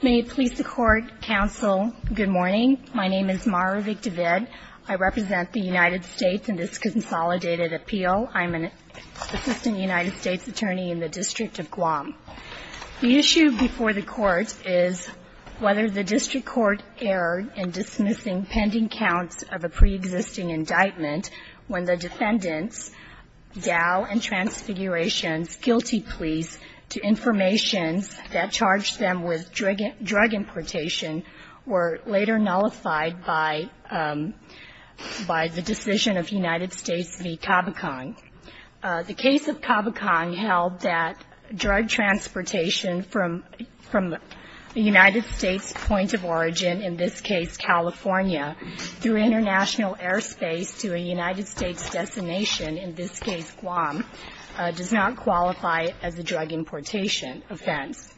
May it please the Court, Counsel, good morning. My name is Mara Vick-David. I represent the United States in this consolidated appeal. I'm an Assistant United States Attorney in the District of Guam. The issue before the Court is whether the District Court erred in dismissing pending counts of a pre-existing indictment when the defendants, Dao and Transfiguration, guilty please, to information that charged them with drug importation were later nullified by the decision of the United States v. Cabocon. The case of Cabocon held that drug transportation from the United States' point of origin, in this case California, through international airspace to a United States destination, in this case Guam, does not qualify as a drug importation offense.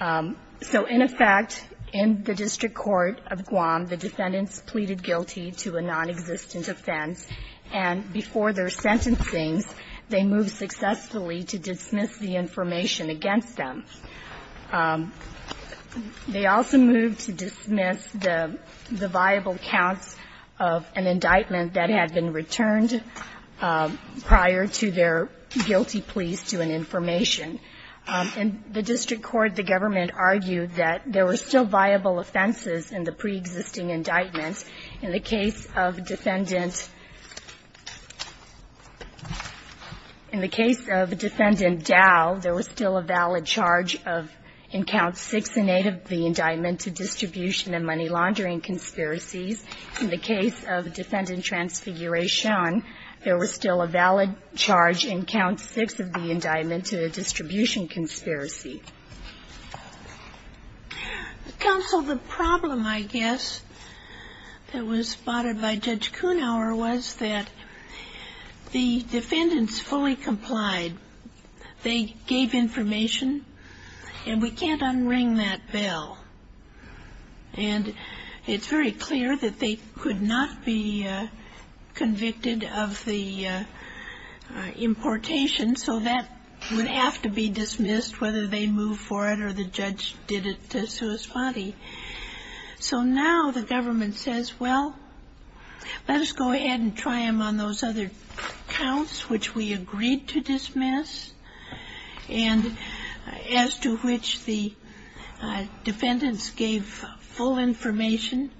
So, in effect, in the District Court of Guam, the defendants pleaded guilty to a nonexistent offense, and before their sentencing, they moved successfully to dismiss the information against them. They also moved to dismiss the viable counts of an indictment that had been returned prior to their guilty pleas to an information. In the District Court, the government argued that there were still viable offenses in the pre-existing indictments. In the case of defendant Dao, there was still a valid charge, and in the case of defendant Transfiguration, there was still a valid charge of, in Counts 6 and 8 of the Indictment to Distribution and Money Laundering Conspiracies. In the case of defendant Transfiguration, there was still a valid charge in Counts 6 of the Indictment to the Distribution Conspiracy. Counsel, the problem, I guess, that was spotted by Judge Kuhnhauer was that the defendants fully complied. They gave information, and we can't unring that bell. And it's very clear that they could not be convicted of the importation, so that would have to be dismissed, whether they moved for it or the judge did it to sui spati. So now the government says, well, let us go ahead and try them on those other counts, which we agreed to dismiss, and as to which the defendants gave full information,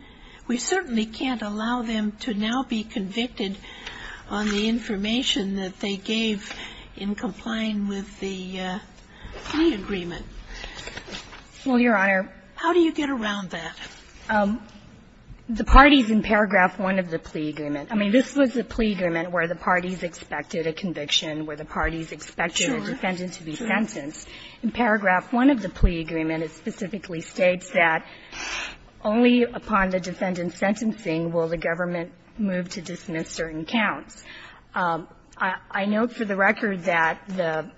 we certainly can't allow them to now be convicted on the information that they gave in complying with the plea agreement. Well, Your Honor. How do you get around that? The parties in paragraph 1 of the plea agreement. I mean, this was the plea agreement where the parties expected a conviction, where the parties expected a defendant to be sentenced. In paragraph 1 of the plea agreement, it specifically states that only upon the defendant's sentencing will the government move to dismiss certain counts. I note for the record that the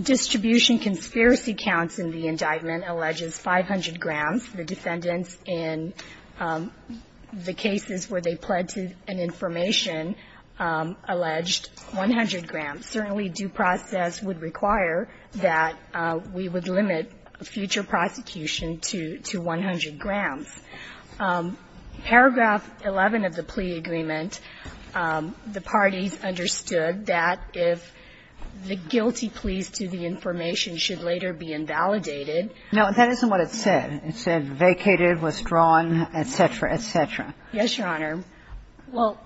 Distribution Conspiracy counts in the indictment alleges 500 grams. The defendants, in the cases where they pled to an information, alleged 100 grams. Certainly, due process would require that we would limit future prosecution to 100 grams. Paragraph 11 of the plea agreement, the parties understood that if the defendant pled to an information, they would be sentenced to 100 grams. Now, that isn't what it said. It said vacated, withdrawn, et cetera, et cetera. Yes, Your Honor. Well,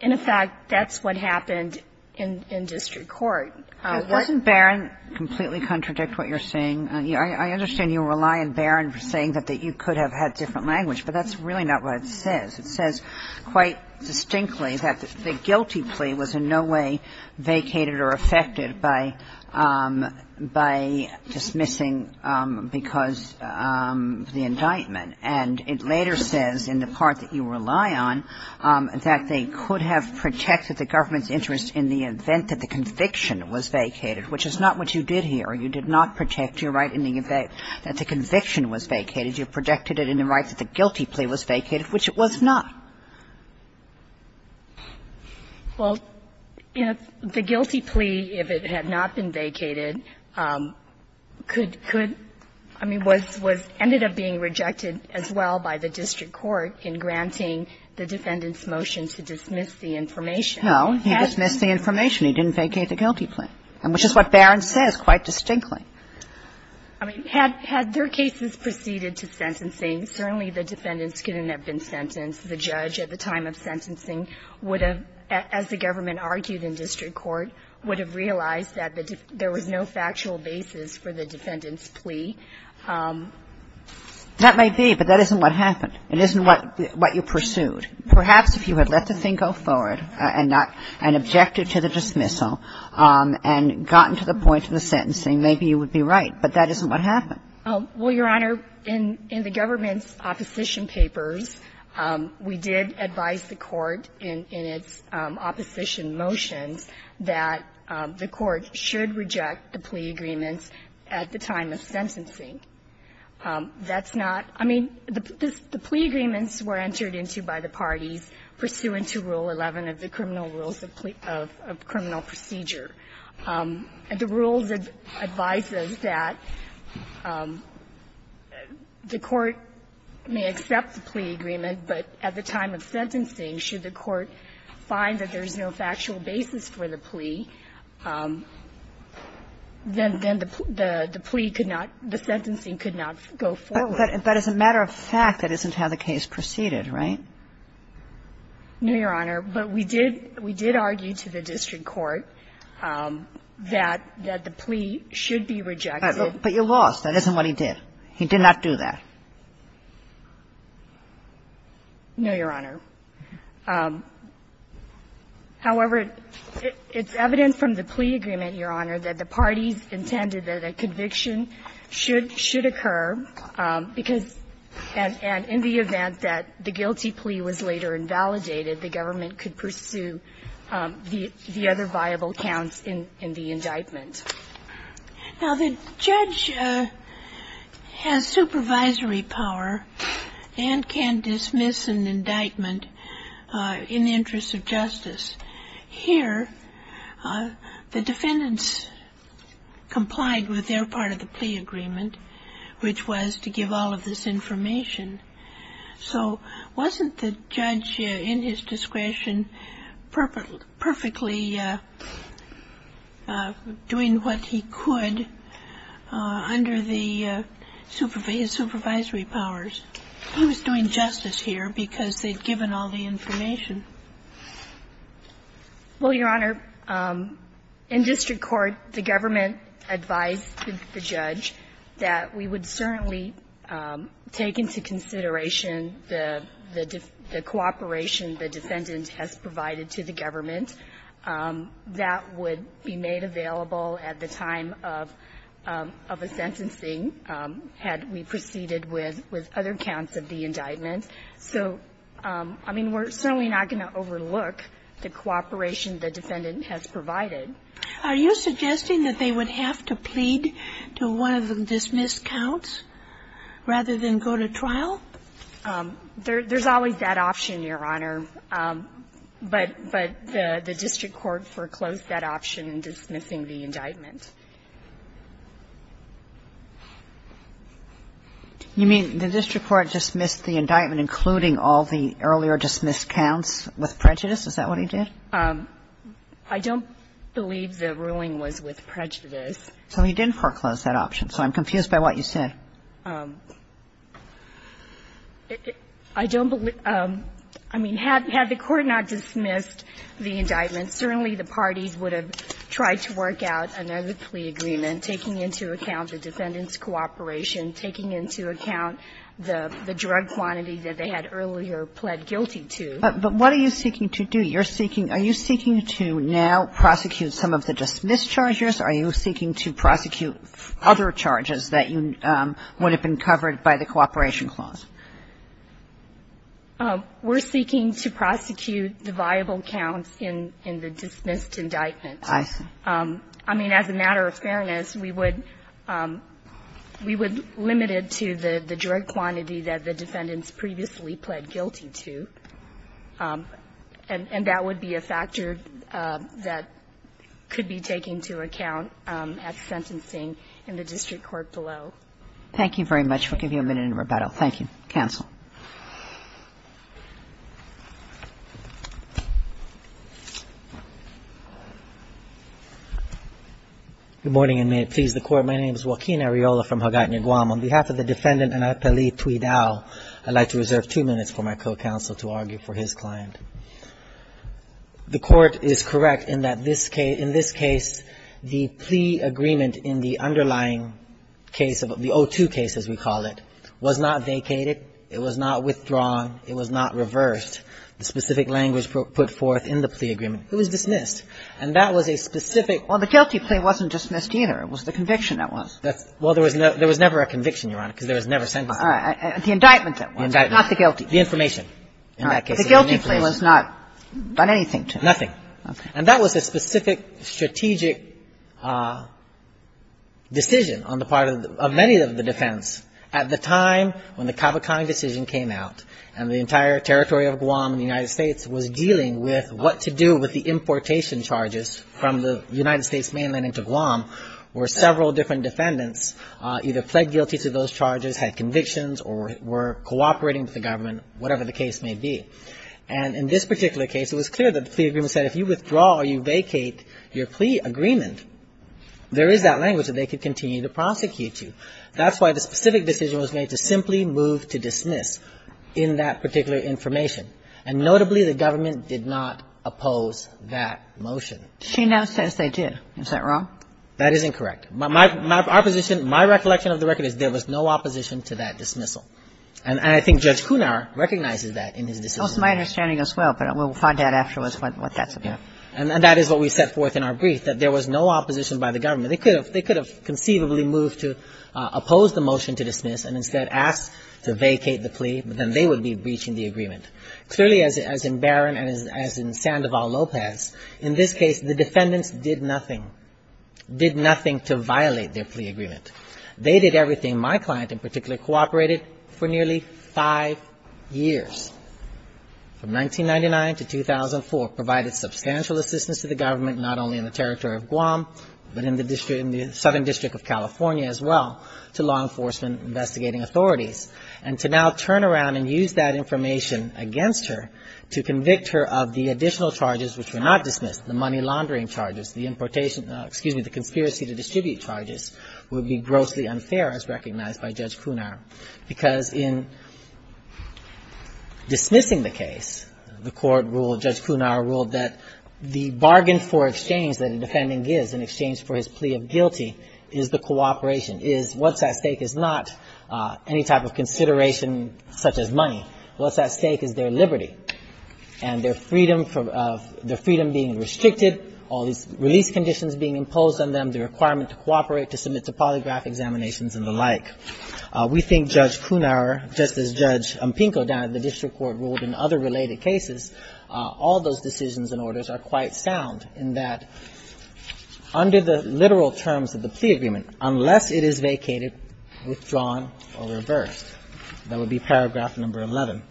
in effect, that's what happened in district court. Doesn't Barron completely contradict what you're saying? I understand you rely on Barron for saying that you could have had different language, but that's really not what it says. It says quite distinctly that the guilty plea was in no way vacated or affected by dismissing because of the indictment. And it later says in the part that you rely on that they could have protected the government's interest in the event that the conviction was vacated, which is not what you did here. You did not protect your right in the event that the conviction was vacated. You protected it in the right that the guilty plea was vacated, which it was not. Well, the guilty plea, if it had not been vacated, could, could, I mean, was, was ended up being rejected as well by the district court in granting the defendant's motion to dismiss the information. No, he dismissed the information. He didn't vacate the guilty plea, which is what Barron says quite distinctly. I mean, had, had their cases proceeded to sentencing, certainly the defendants couldn't have been sentenced. The judge at the time of sentencing would have, as the government argued in district court, would have realized that there was no factual basis for the defendant's plea. That may be, but that isn't what happened. It isn't what, what you pursued. Perhaps if you had let the thing go forward and not, and objected to the dismissal and gotten to the point of the sentencing, maybe you would be right. But that isn't what happened. Well, Your Honor, in, in the government's opposition papers, we did advise the court in, in its opposition motions that the court should reject the plea agreements at the time of sentencing. That's not, I mean, the plea agreements were entered into by the parties pursuant to Rule 11 of the criminal rules of plea, of criminal procedure. The rules advise us that the court may accept the plea agreement, but at the time of sentencing, should the court find that there's no factual basis for the plea, then, then the, the plea could not, the sentencing could not go forward. But, but as a matter of fact, that isn't how the case proceeded, right? No, Your Honor. But we did, we did argue to the district court that, that the plea should be rejected. But you lost. That isn't what he did. He did not do that. No, Your Honor. However, it, it's evident from the plea agreement, Your Honor, that the parties intended that a conviction should, should occur, because, and, and in the event that the guilty plea was later invalidated, the government could pursue the, the other viable counts in, in the indictment. Now, the judge has supervisory power and can dismiss an indictment in the interest of justice. Here, the defendants complied with their part of the plea agreement, which was to give all of this information. So wasn't the judge, in his discretion, perfectly, perfectly doing what he could under the supervisory, his supervisory powers? He was doing justice here because they'd given all the information. Well, Your Honor, in district court, the government advised the judge that we would certainly take into consideration the, the cooperation the defendant has provided to the government that would be made available at the time of, of a sentencing had we proceeded with, with other counts of the indictment. So, I mean, we're certainly not going to overlook the cooperation the defendant has provided. Are you suggesting that they would have to plead to one of the dismissed counts rather than go to trial? There, there's always that option, Your Honor. But, but the, the district court foreclosed that option in dismissing the indictment. You mean the district court dismissed the indictment including all the earlier dismissed counts with prejudice? Is that what he did? I don't believe the ruling was with prejudice. So he didn't foreclose that option. So I'm confused by what you said. I don't believe, I mean, had, had the court not dismissed the indictment, certainly the parties would have tried to work out another plea agreement, taking into account the defendant's cooperation, taking into account the, the drug quantity that they had earlier pled guilty to. But what are you seeking to do? You're seeking, are you seeking to now prosecute some of the dismissed charges? Are you seeking to prosecute other charges that you would have been covered by the cooperation clause? We're seeking to prosecute the viable counts in, in the dismissed indictment. I see. I mean, as a matter of fairness, we would, we would limit it to the, the drug quantity that the defendants previously pled guilty to. And, and that would be a factor that could be taken into account at sentencing in the district court below. Thank you very much. We'll give you a minute in rebuttal. Thank you. Counsel. Good morning, and may it please the Court. My name is Joaquin Areola from Hawkeye, New Guam. On behalf of the defendant, Anapeli Tweedau, I'd like to reserve two minutes for my co-counsel to argue for his client. The Court is correct in that this case, in this case, the plea agreement in the underlying case of the 02 case, as we call it, was not vacated. It was not withdrawn. It was not reversed. The specific language put forth in the plea agreement. It was dismissed. And that was a specific. Well, the guilty plea wasn't dismissed either. It was the conviction that was. Well, there was never a conviction, Your Honor, because there was never sentencing. All right. The indictment that was. The indictment. Not the guilty. The information. All right. The guilty plea was not done anything to. Nothing. Okay. And that was a specific strategic decision on the part of many of the defense. At the time when the Cavacani decision came out and the entire territory of Guam in the United States was dealing with what to do with the importation charges from the United States, many different defendants either pled guilty to those charges, had convictions or were cooperating with the government, whatever the case may be. And in this particular case, it was clear that the plea agreement said if you withdraw or you vacate your plea agreement, there is that language that they could continue to prosecute you. That's why the specific decision was made to simply move to dismiss in that particular information. And notably, the government did not oppose that motion. She now says they did. Is that wrong? That is incorrect. My position, my recollection of the record is there was no opposition to that dismissal. And I think Judge Cunar recognizes that in his decision. That was my understanding as well, but we'll find out afterwards what that's about. And that is what we set forth in our brief, that there was no opposition by the government. They could have conceivably moved to oppose the motion to dismiss and instead ask to vacate the plea, but then they would be breaching the agreement. Clearly, as in Barron and as in Sandoval Lopez, in this case, the defendants did nothing, did nothing to violate their plea agreement. They did everything. My client in particular cooperated for nearly five years. From 1999 to 2004, provided substantial assistance to the government, not only in the territory of Guam, but in the southern district of California as well, to law enforcement investigating authorities. And to now turn around and use that information against her to convict her of the money laundering charges, the importation, excuse me, the conspiracy to distribute charges would be grossly unfair as recognized by Judge Cunar. Because in dismissing the case, the court ruled, Judge Cunar ruled that the bargain for exchange that a defendant gives in exchange for his plea of guilty is the cooperation, is what's at stake is not any type of consideration such as money. What's at stake is their liberty and their freedom of the freedom being restricted, all these release conditions being imposed on them, the requirement to cooperate, to submit to polygraph examinations and the like. We think Judge Cunar, just as Judge Ampinko down at the district court ruled in other related cases, all those decisions and orders are quite sound in that under the literal terms of the plea agreement, unless it is vacated, withdrawn, or reversed. That would be paragraph number 11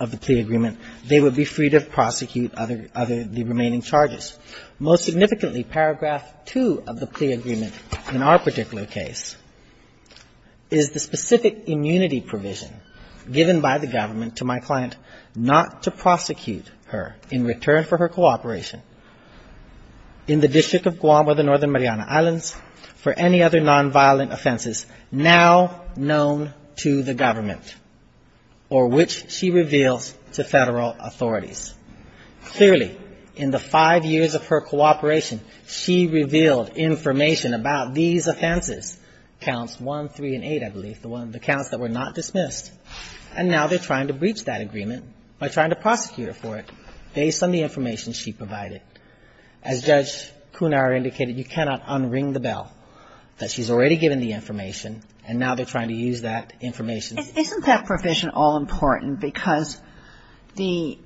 of the plea agreement. They would be free to prosecute other, other, the remaining charges. Most significantly, paragraph 2 of the plea agreement in our particular case is the specific immunity provision given by the government to my client not to prosecute her in return for her cooperation in the District of Guam or the Northern Mariana Islands for any other offense to the government or which she reveals to Federal authorities. Clearly, in the five years of her cooperation, she revealed information about these offenses, counts 1, 3, and 8, I believe, the counts that were not dismissed, and now they're trying to breach that agreement by trying to prosecute her for it based on the information she provided. As Judge Cunar indicated, you cannot unring the bell that she's already given the information. Kagan. Isn't that provision all-important because the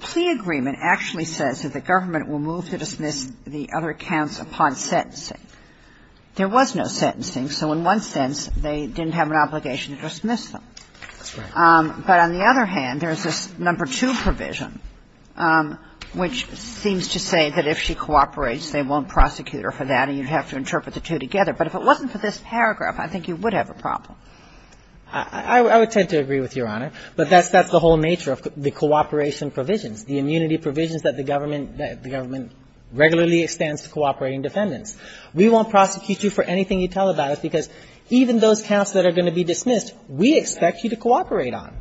plea agreement actually says that the government will move to dismiss the other counts upon sentencing? There was no sentencing, so in one sense, they didn't have an obligation to dismiss them. That's right. But on the other hand, there's this number 2 provision which seems to say that if she cooperates, they won't prosecute her for that and you'd have to interpret the two together. But if it wasn't for this paragraph, I think you would have a problem. I would tend to agree with Your Honor, but that's the whole nature of the cooperation provisions, the immunity provisions that the government regularly extends to cooperating defendants. We won't prosecute you for anything you tell about us because even those counts that are going to be dismissed, we expect you to cooperate on.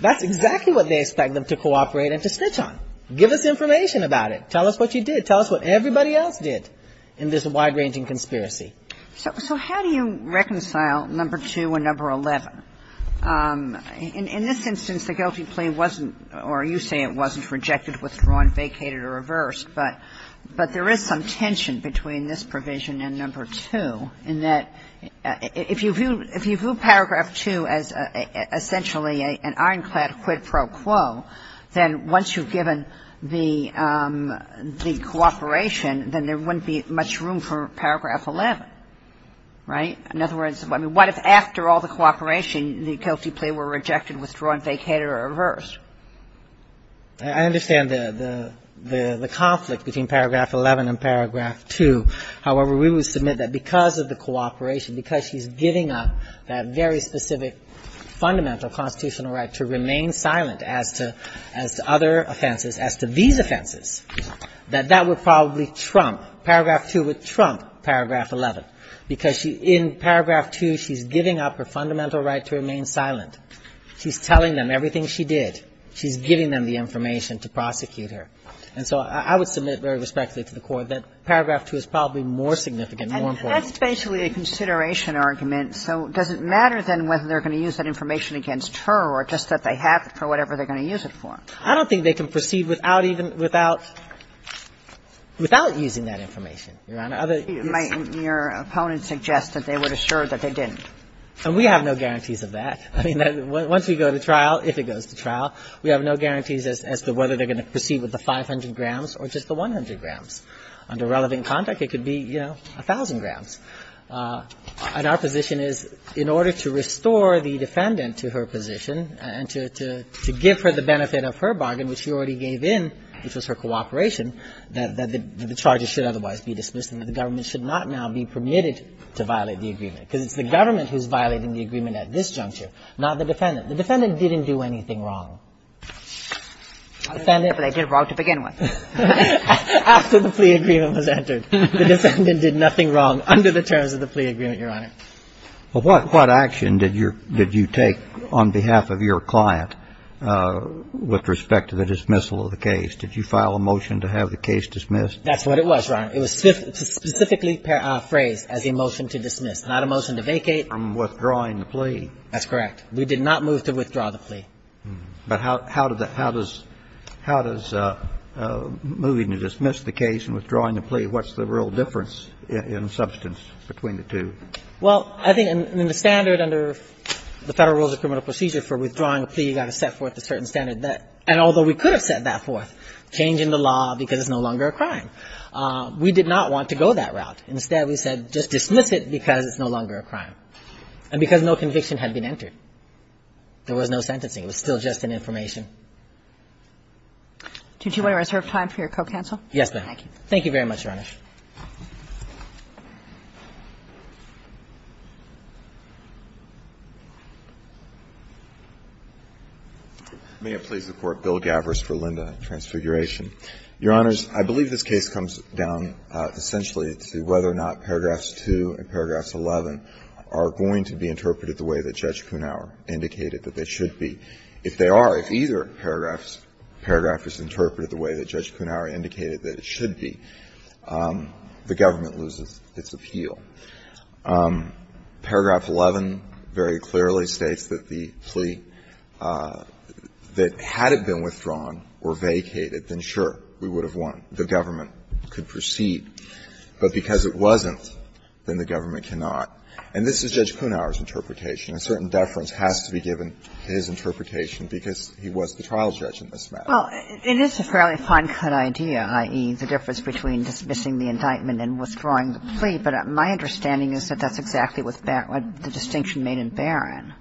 That's exactly what they expect them to cooperate and to snitch on. Give us information about it. Tell us what you did. Tell us what everybody else did in this wide-ranging conspiracy. So how do you reconcile number 2 and number 11? In this instance, the guilty plea wasn't, or you say it wasn't, rejected, withdrawn, vacated or reversed. But there is some tension between this provision and number 2 in that if you view paragraph 2 as essentially an ironclad quid pro quo, then once you've given the cooperation, then there wouldn't be much room for paragraph 11, right? In other words, I mean, what if after all the cooperation, the guilty plea were rejected, withdrawn, vacated or reversed? I understand the conflict between paragraph 11 and paragraph 2. However, we would submit that because of the cooperation, because she's giving up that very specific fundamental constitutional right to remain silent as to other that that would probably trump paragraph 2 would trump paragraph 11, because in paragraph 2, she's giving up her fundamental right to remain silent. She's telling them everything she did. She's giving them the information to prosecute her. And so I would submit very respectfully to the Court that paragraph 2 is probably more significant, more important. And that's basically a consideration argument. So does it matter, then, whether they're going to use that information against her or just that they have it for whatever they're going to use it for? I don't think they can proceed without even — without using that information, Your Honor. Your opponent suggests that they would assure that they didn't. And we have no guarantees of that. I mean, once we go to trial, if it goes to trial, we have no guarantees as to whether they're going to proceed with the 500 grams or just the 100 grams. Under relevant conduct, it could be, you know, 1,000 grams. And our position is in order to restore the defendant to her position and to give her the benefit of her bargain, which she already gave in, which was her cooperation, that the charges should otherwise be dismissed and that the government should not now be permitted to violate the agreement, because it's the government who's violating the agreement at this juncture, not the defendant. The defendant didn't do anything wrong. The defendant — I don't know if they did wrong to begin with. After the plea agreement was entered, the defendant did nothing wrong under the terms of the plea agreement, Your Honor. Well, what action did you take on behalf of your client with respect to the dismissal of the case? Did you file a motion to have the case dismissed? That's what it was, Your Honor. It was specifically phrased as a motion to dismiss, not a motion to vacate. And withdrawing the plea. That's correct. We did not move to withdraw the plea. But how does moving to dismiss the case and withdrawing the plea, what's the real difference in substance between the two? Well, I think in the standard under the Federal Rules of Criminal Procedure for withdrawing a plea, you've got to set forth a certain standard that — and although we could have set that forth, changing the law because it's no longer a crime. We did not want to go that route. Instead, we said just dismiss it because it's no longer a crime. And because no conviction had been entered. There was no sentencing. It was still just an information. Do you want to reserve time for your co-counsel? Yes, ma'am. Thank you very much, Your Honor. May it please the Court. Bill Gavras for Linda. Transfiguration. Your Honors, I believe this case comes down essentially to whether or not paragraphs 2 and paragraphs 11 are going to be interpreted the way that Judge Kunawer indicated that they should be. If they are, if either paragraph is interpreted the way that Judge Kunawer indicated that it should be. The government loses its appeal. Paragraph 11 very clearly states that the plea, that had it been withdrawn or vacated, then sure, we would have won. The government could proceed. But because it wasn't, then the government cannot. And this is Judge Kunawer's interpretation. A certain deference has to be given to his interpretation because he was the trial judge in this matter. Well, it is a fairly fine-cut idea, i.e., the difference between dismissing the indictment and withdrawing the plea, but my understanding is that that's exactly what the distinction made in Barron.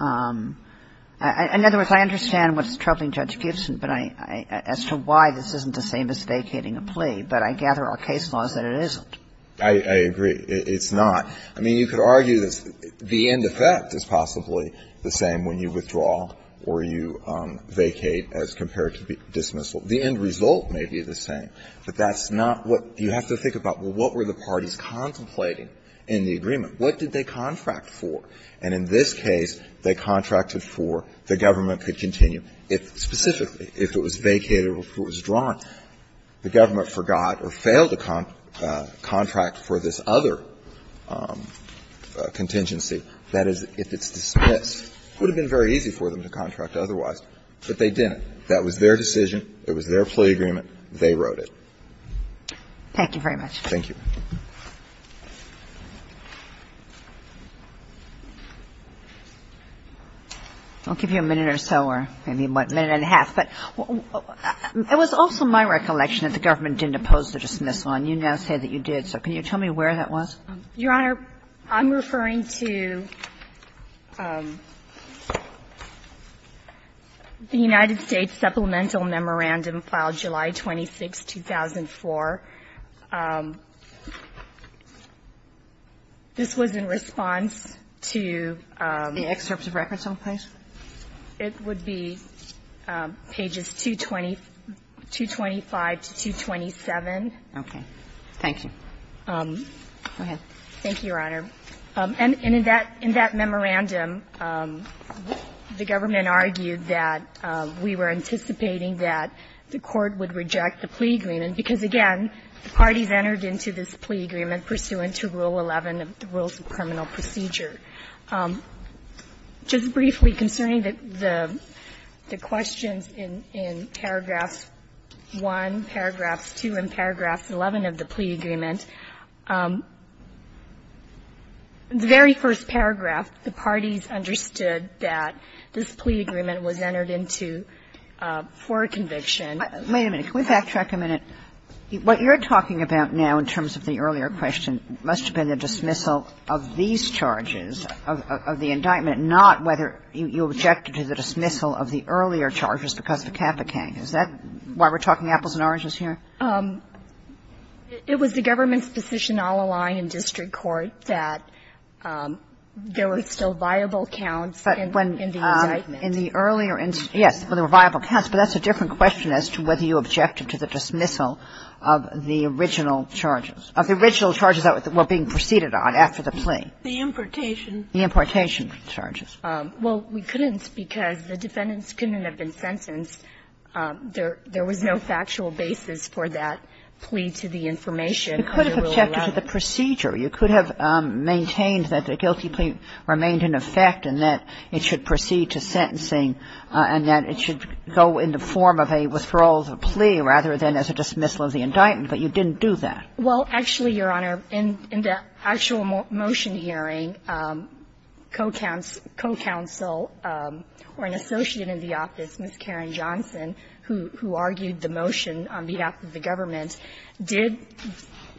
In other words, I understand what's troubling Judge Gibson, but I as to why this isn't the same as vacating a plea, but I gather our case law is that it isn't. I agree. It's not. I mean, you could argue that the end effect is possibly the same when you withdraw or you vacate as compared to dismissal. The end result may be the same, but that's not what you have to think about. Well, what were the parties contemplating in the agreement? What did they contract for? And in this case, they contracted for the government could continue if specifically if it was vacated or if it was withdrawn. The government forgot or failed a contract for this other contingency, that is, if it's vacated, the government could continue to contract otherwise. But they didn't. That was their decision. It was their plea agreement. They wrote it. Thank you very much. Thank you. I'll give you a minute or so or maybe a minute and a half. But it was also my recollection that the government didn't oppose the dismissal and you now say that you did. So can you tell me where that was? Your Honor, I'm referring to the United States Supplemental Memorandum filed July 26, 2004. This was in response to the excerpts of records on the place. It would be pages 225 to 227. Okay. Thank you. Go ahead. Thank you, Your Honor. And in that memorandum, the government argued that we were anticipating that the court would reject the plea agreement because, again, the parties entered into this plea agreement pursuant to Rule 11 of the Rules of Criminal Procedure. Just briefly concerning the questions in paragraphs 1, paragraphs 2, and paragraphs 11 of the plea agreement, the very first paragraph, the parties understood that this plea agreement was entered into for a conviction. Wait a minute. Can we backtrack a minute? What you're talking about now in terms of the earlier question must have been the dismissal of these charges, of the indictment, not whether you objected to the dismissal of the earlier charges because of the Capitan. Is that why we're talking apples and oranges here? It was the government's position all along in district court that there were still viable counts in the indictment. Yes, there were viable counts. But that's a different question as to whether you objected to the dismissal of the original charges, of the original charges that were being proceeded on after the plea. The importation. The importation charges. Well, we couldn't because the defendants couldn't have been sentenced. There was no factual basis for that plea to the information under Rule 11. You could have objected to the procedure. You could have maintained that the guilty plea remained in effect and that it should proceed to sentencing and that it should go in the form of a withdrawal of the plea rather than as a dismissal of the indictment. But you didn't do that. Well, actually, Your Honor, in the actual motion hearing, co-counsel or an associate in the office, Ms. Karen Johnson, who argued the motion on behalf of the government, did,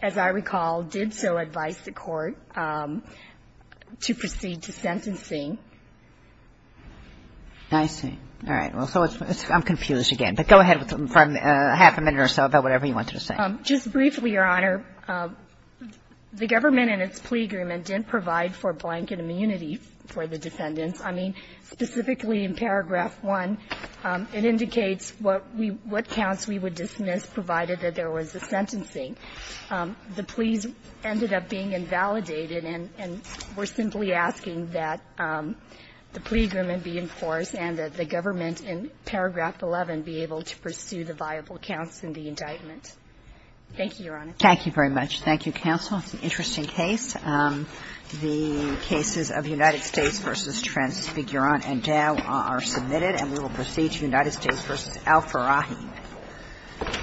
as I recall, did so advise the Court to proceed to sentencing. I see. All right. Well, so I'm confused again. But go ahead for half a minute or so about whatever you wanted to say. Just briefly, Your Honor, the government in its plea agreement didn't provide for blanket immunity for the defendants. I mean, specifically in paragraph 1, it indicates what counts we would dismiss provided that there was a sentencing. The pleas ended up being invalidated, and we're simply asking that the plea agreement be in force and that the government in paragraph 11 be able to pursue the viable counts in the indictment. Thank you, Your Honor. Thank you very much. Thank you, counsel. It's an interesting case. The cases of United States v. Transfigurant and Dow are submitted. And we will proceed to United States v. Al-Farrahi.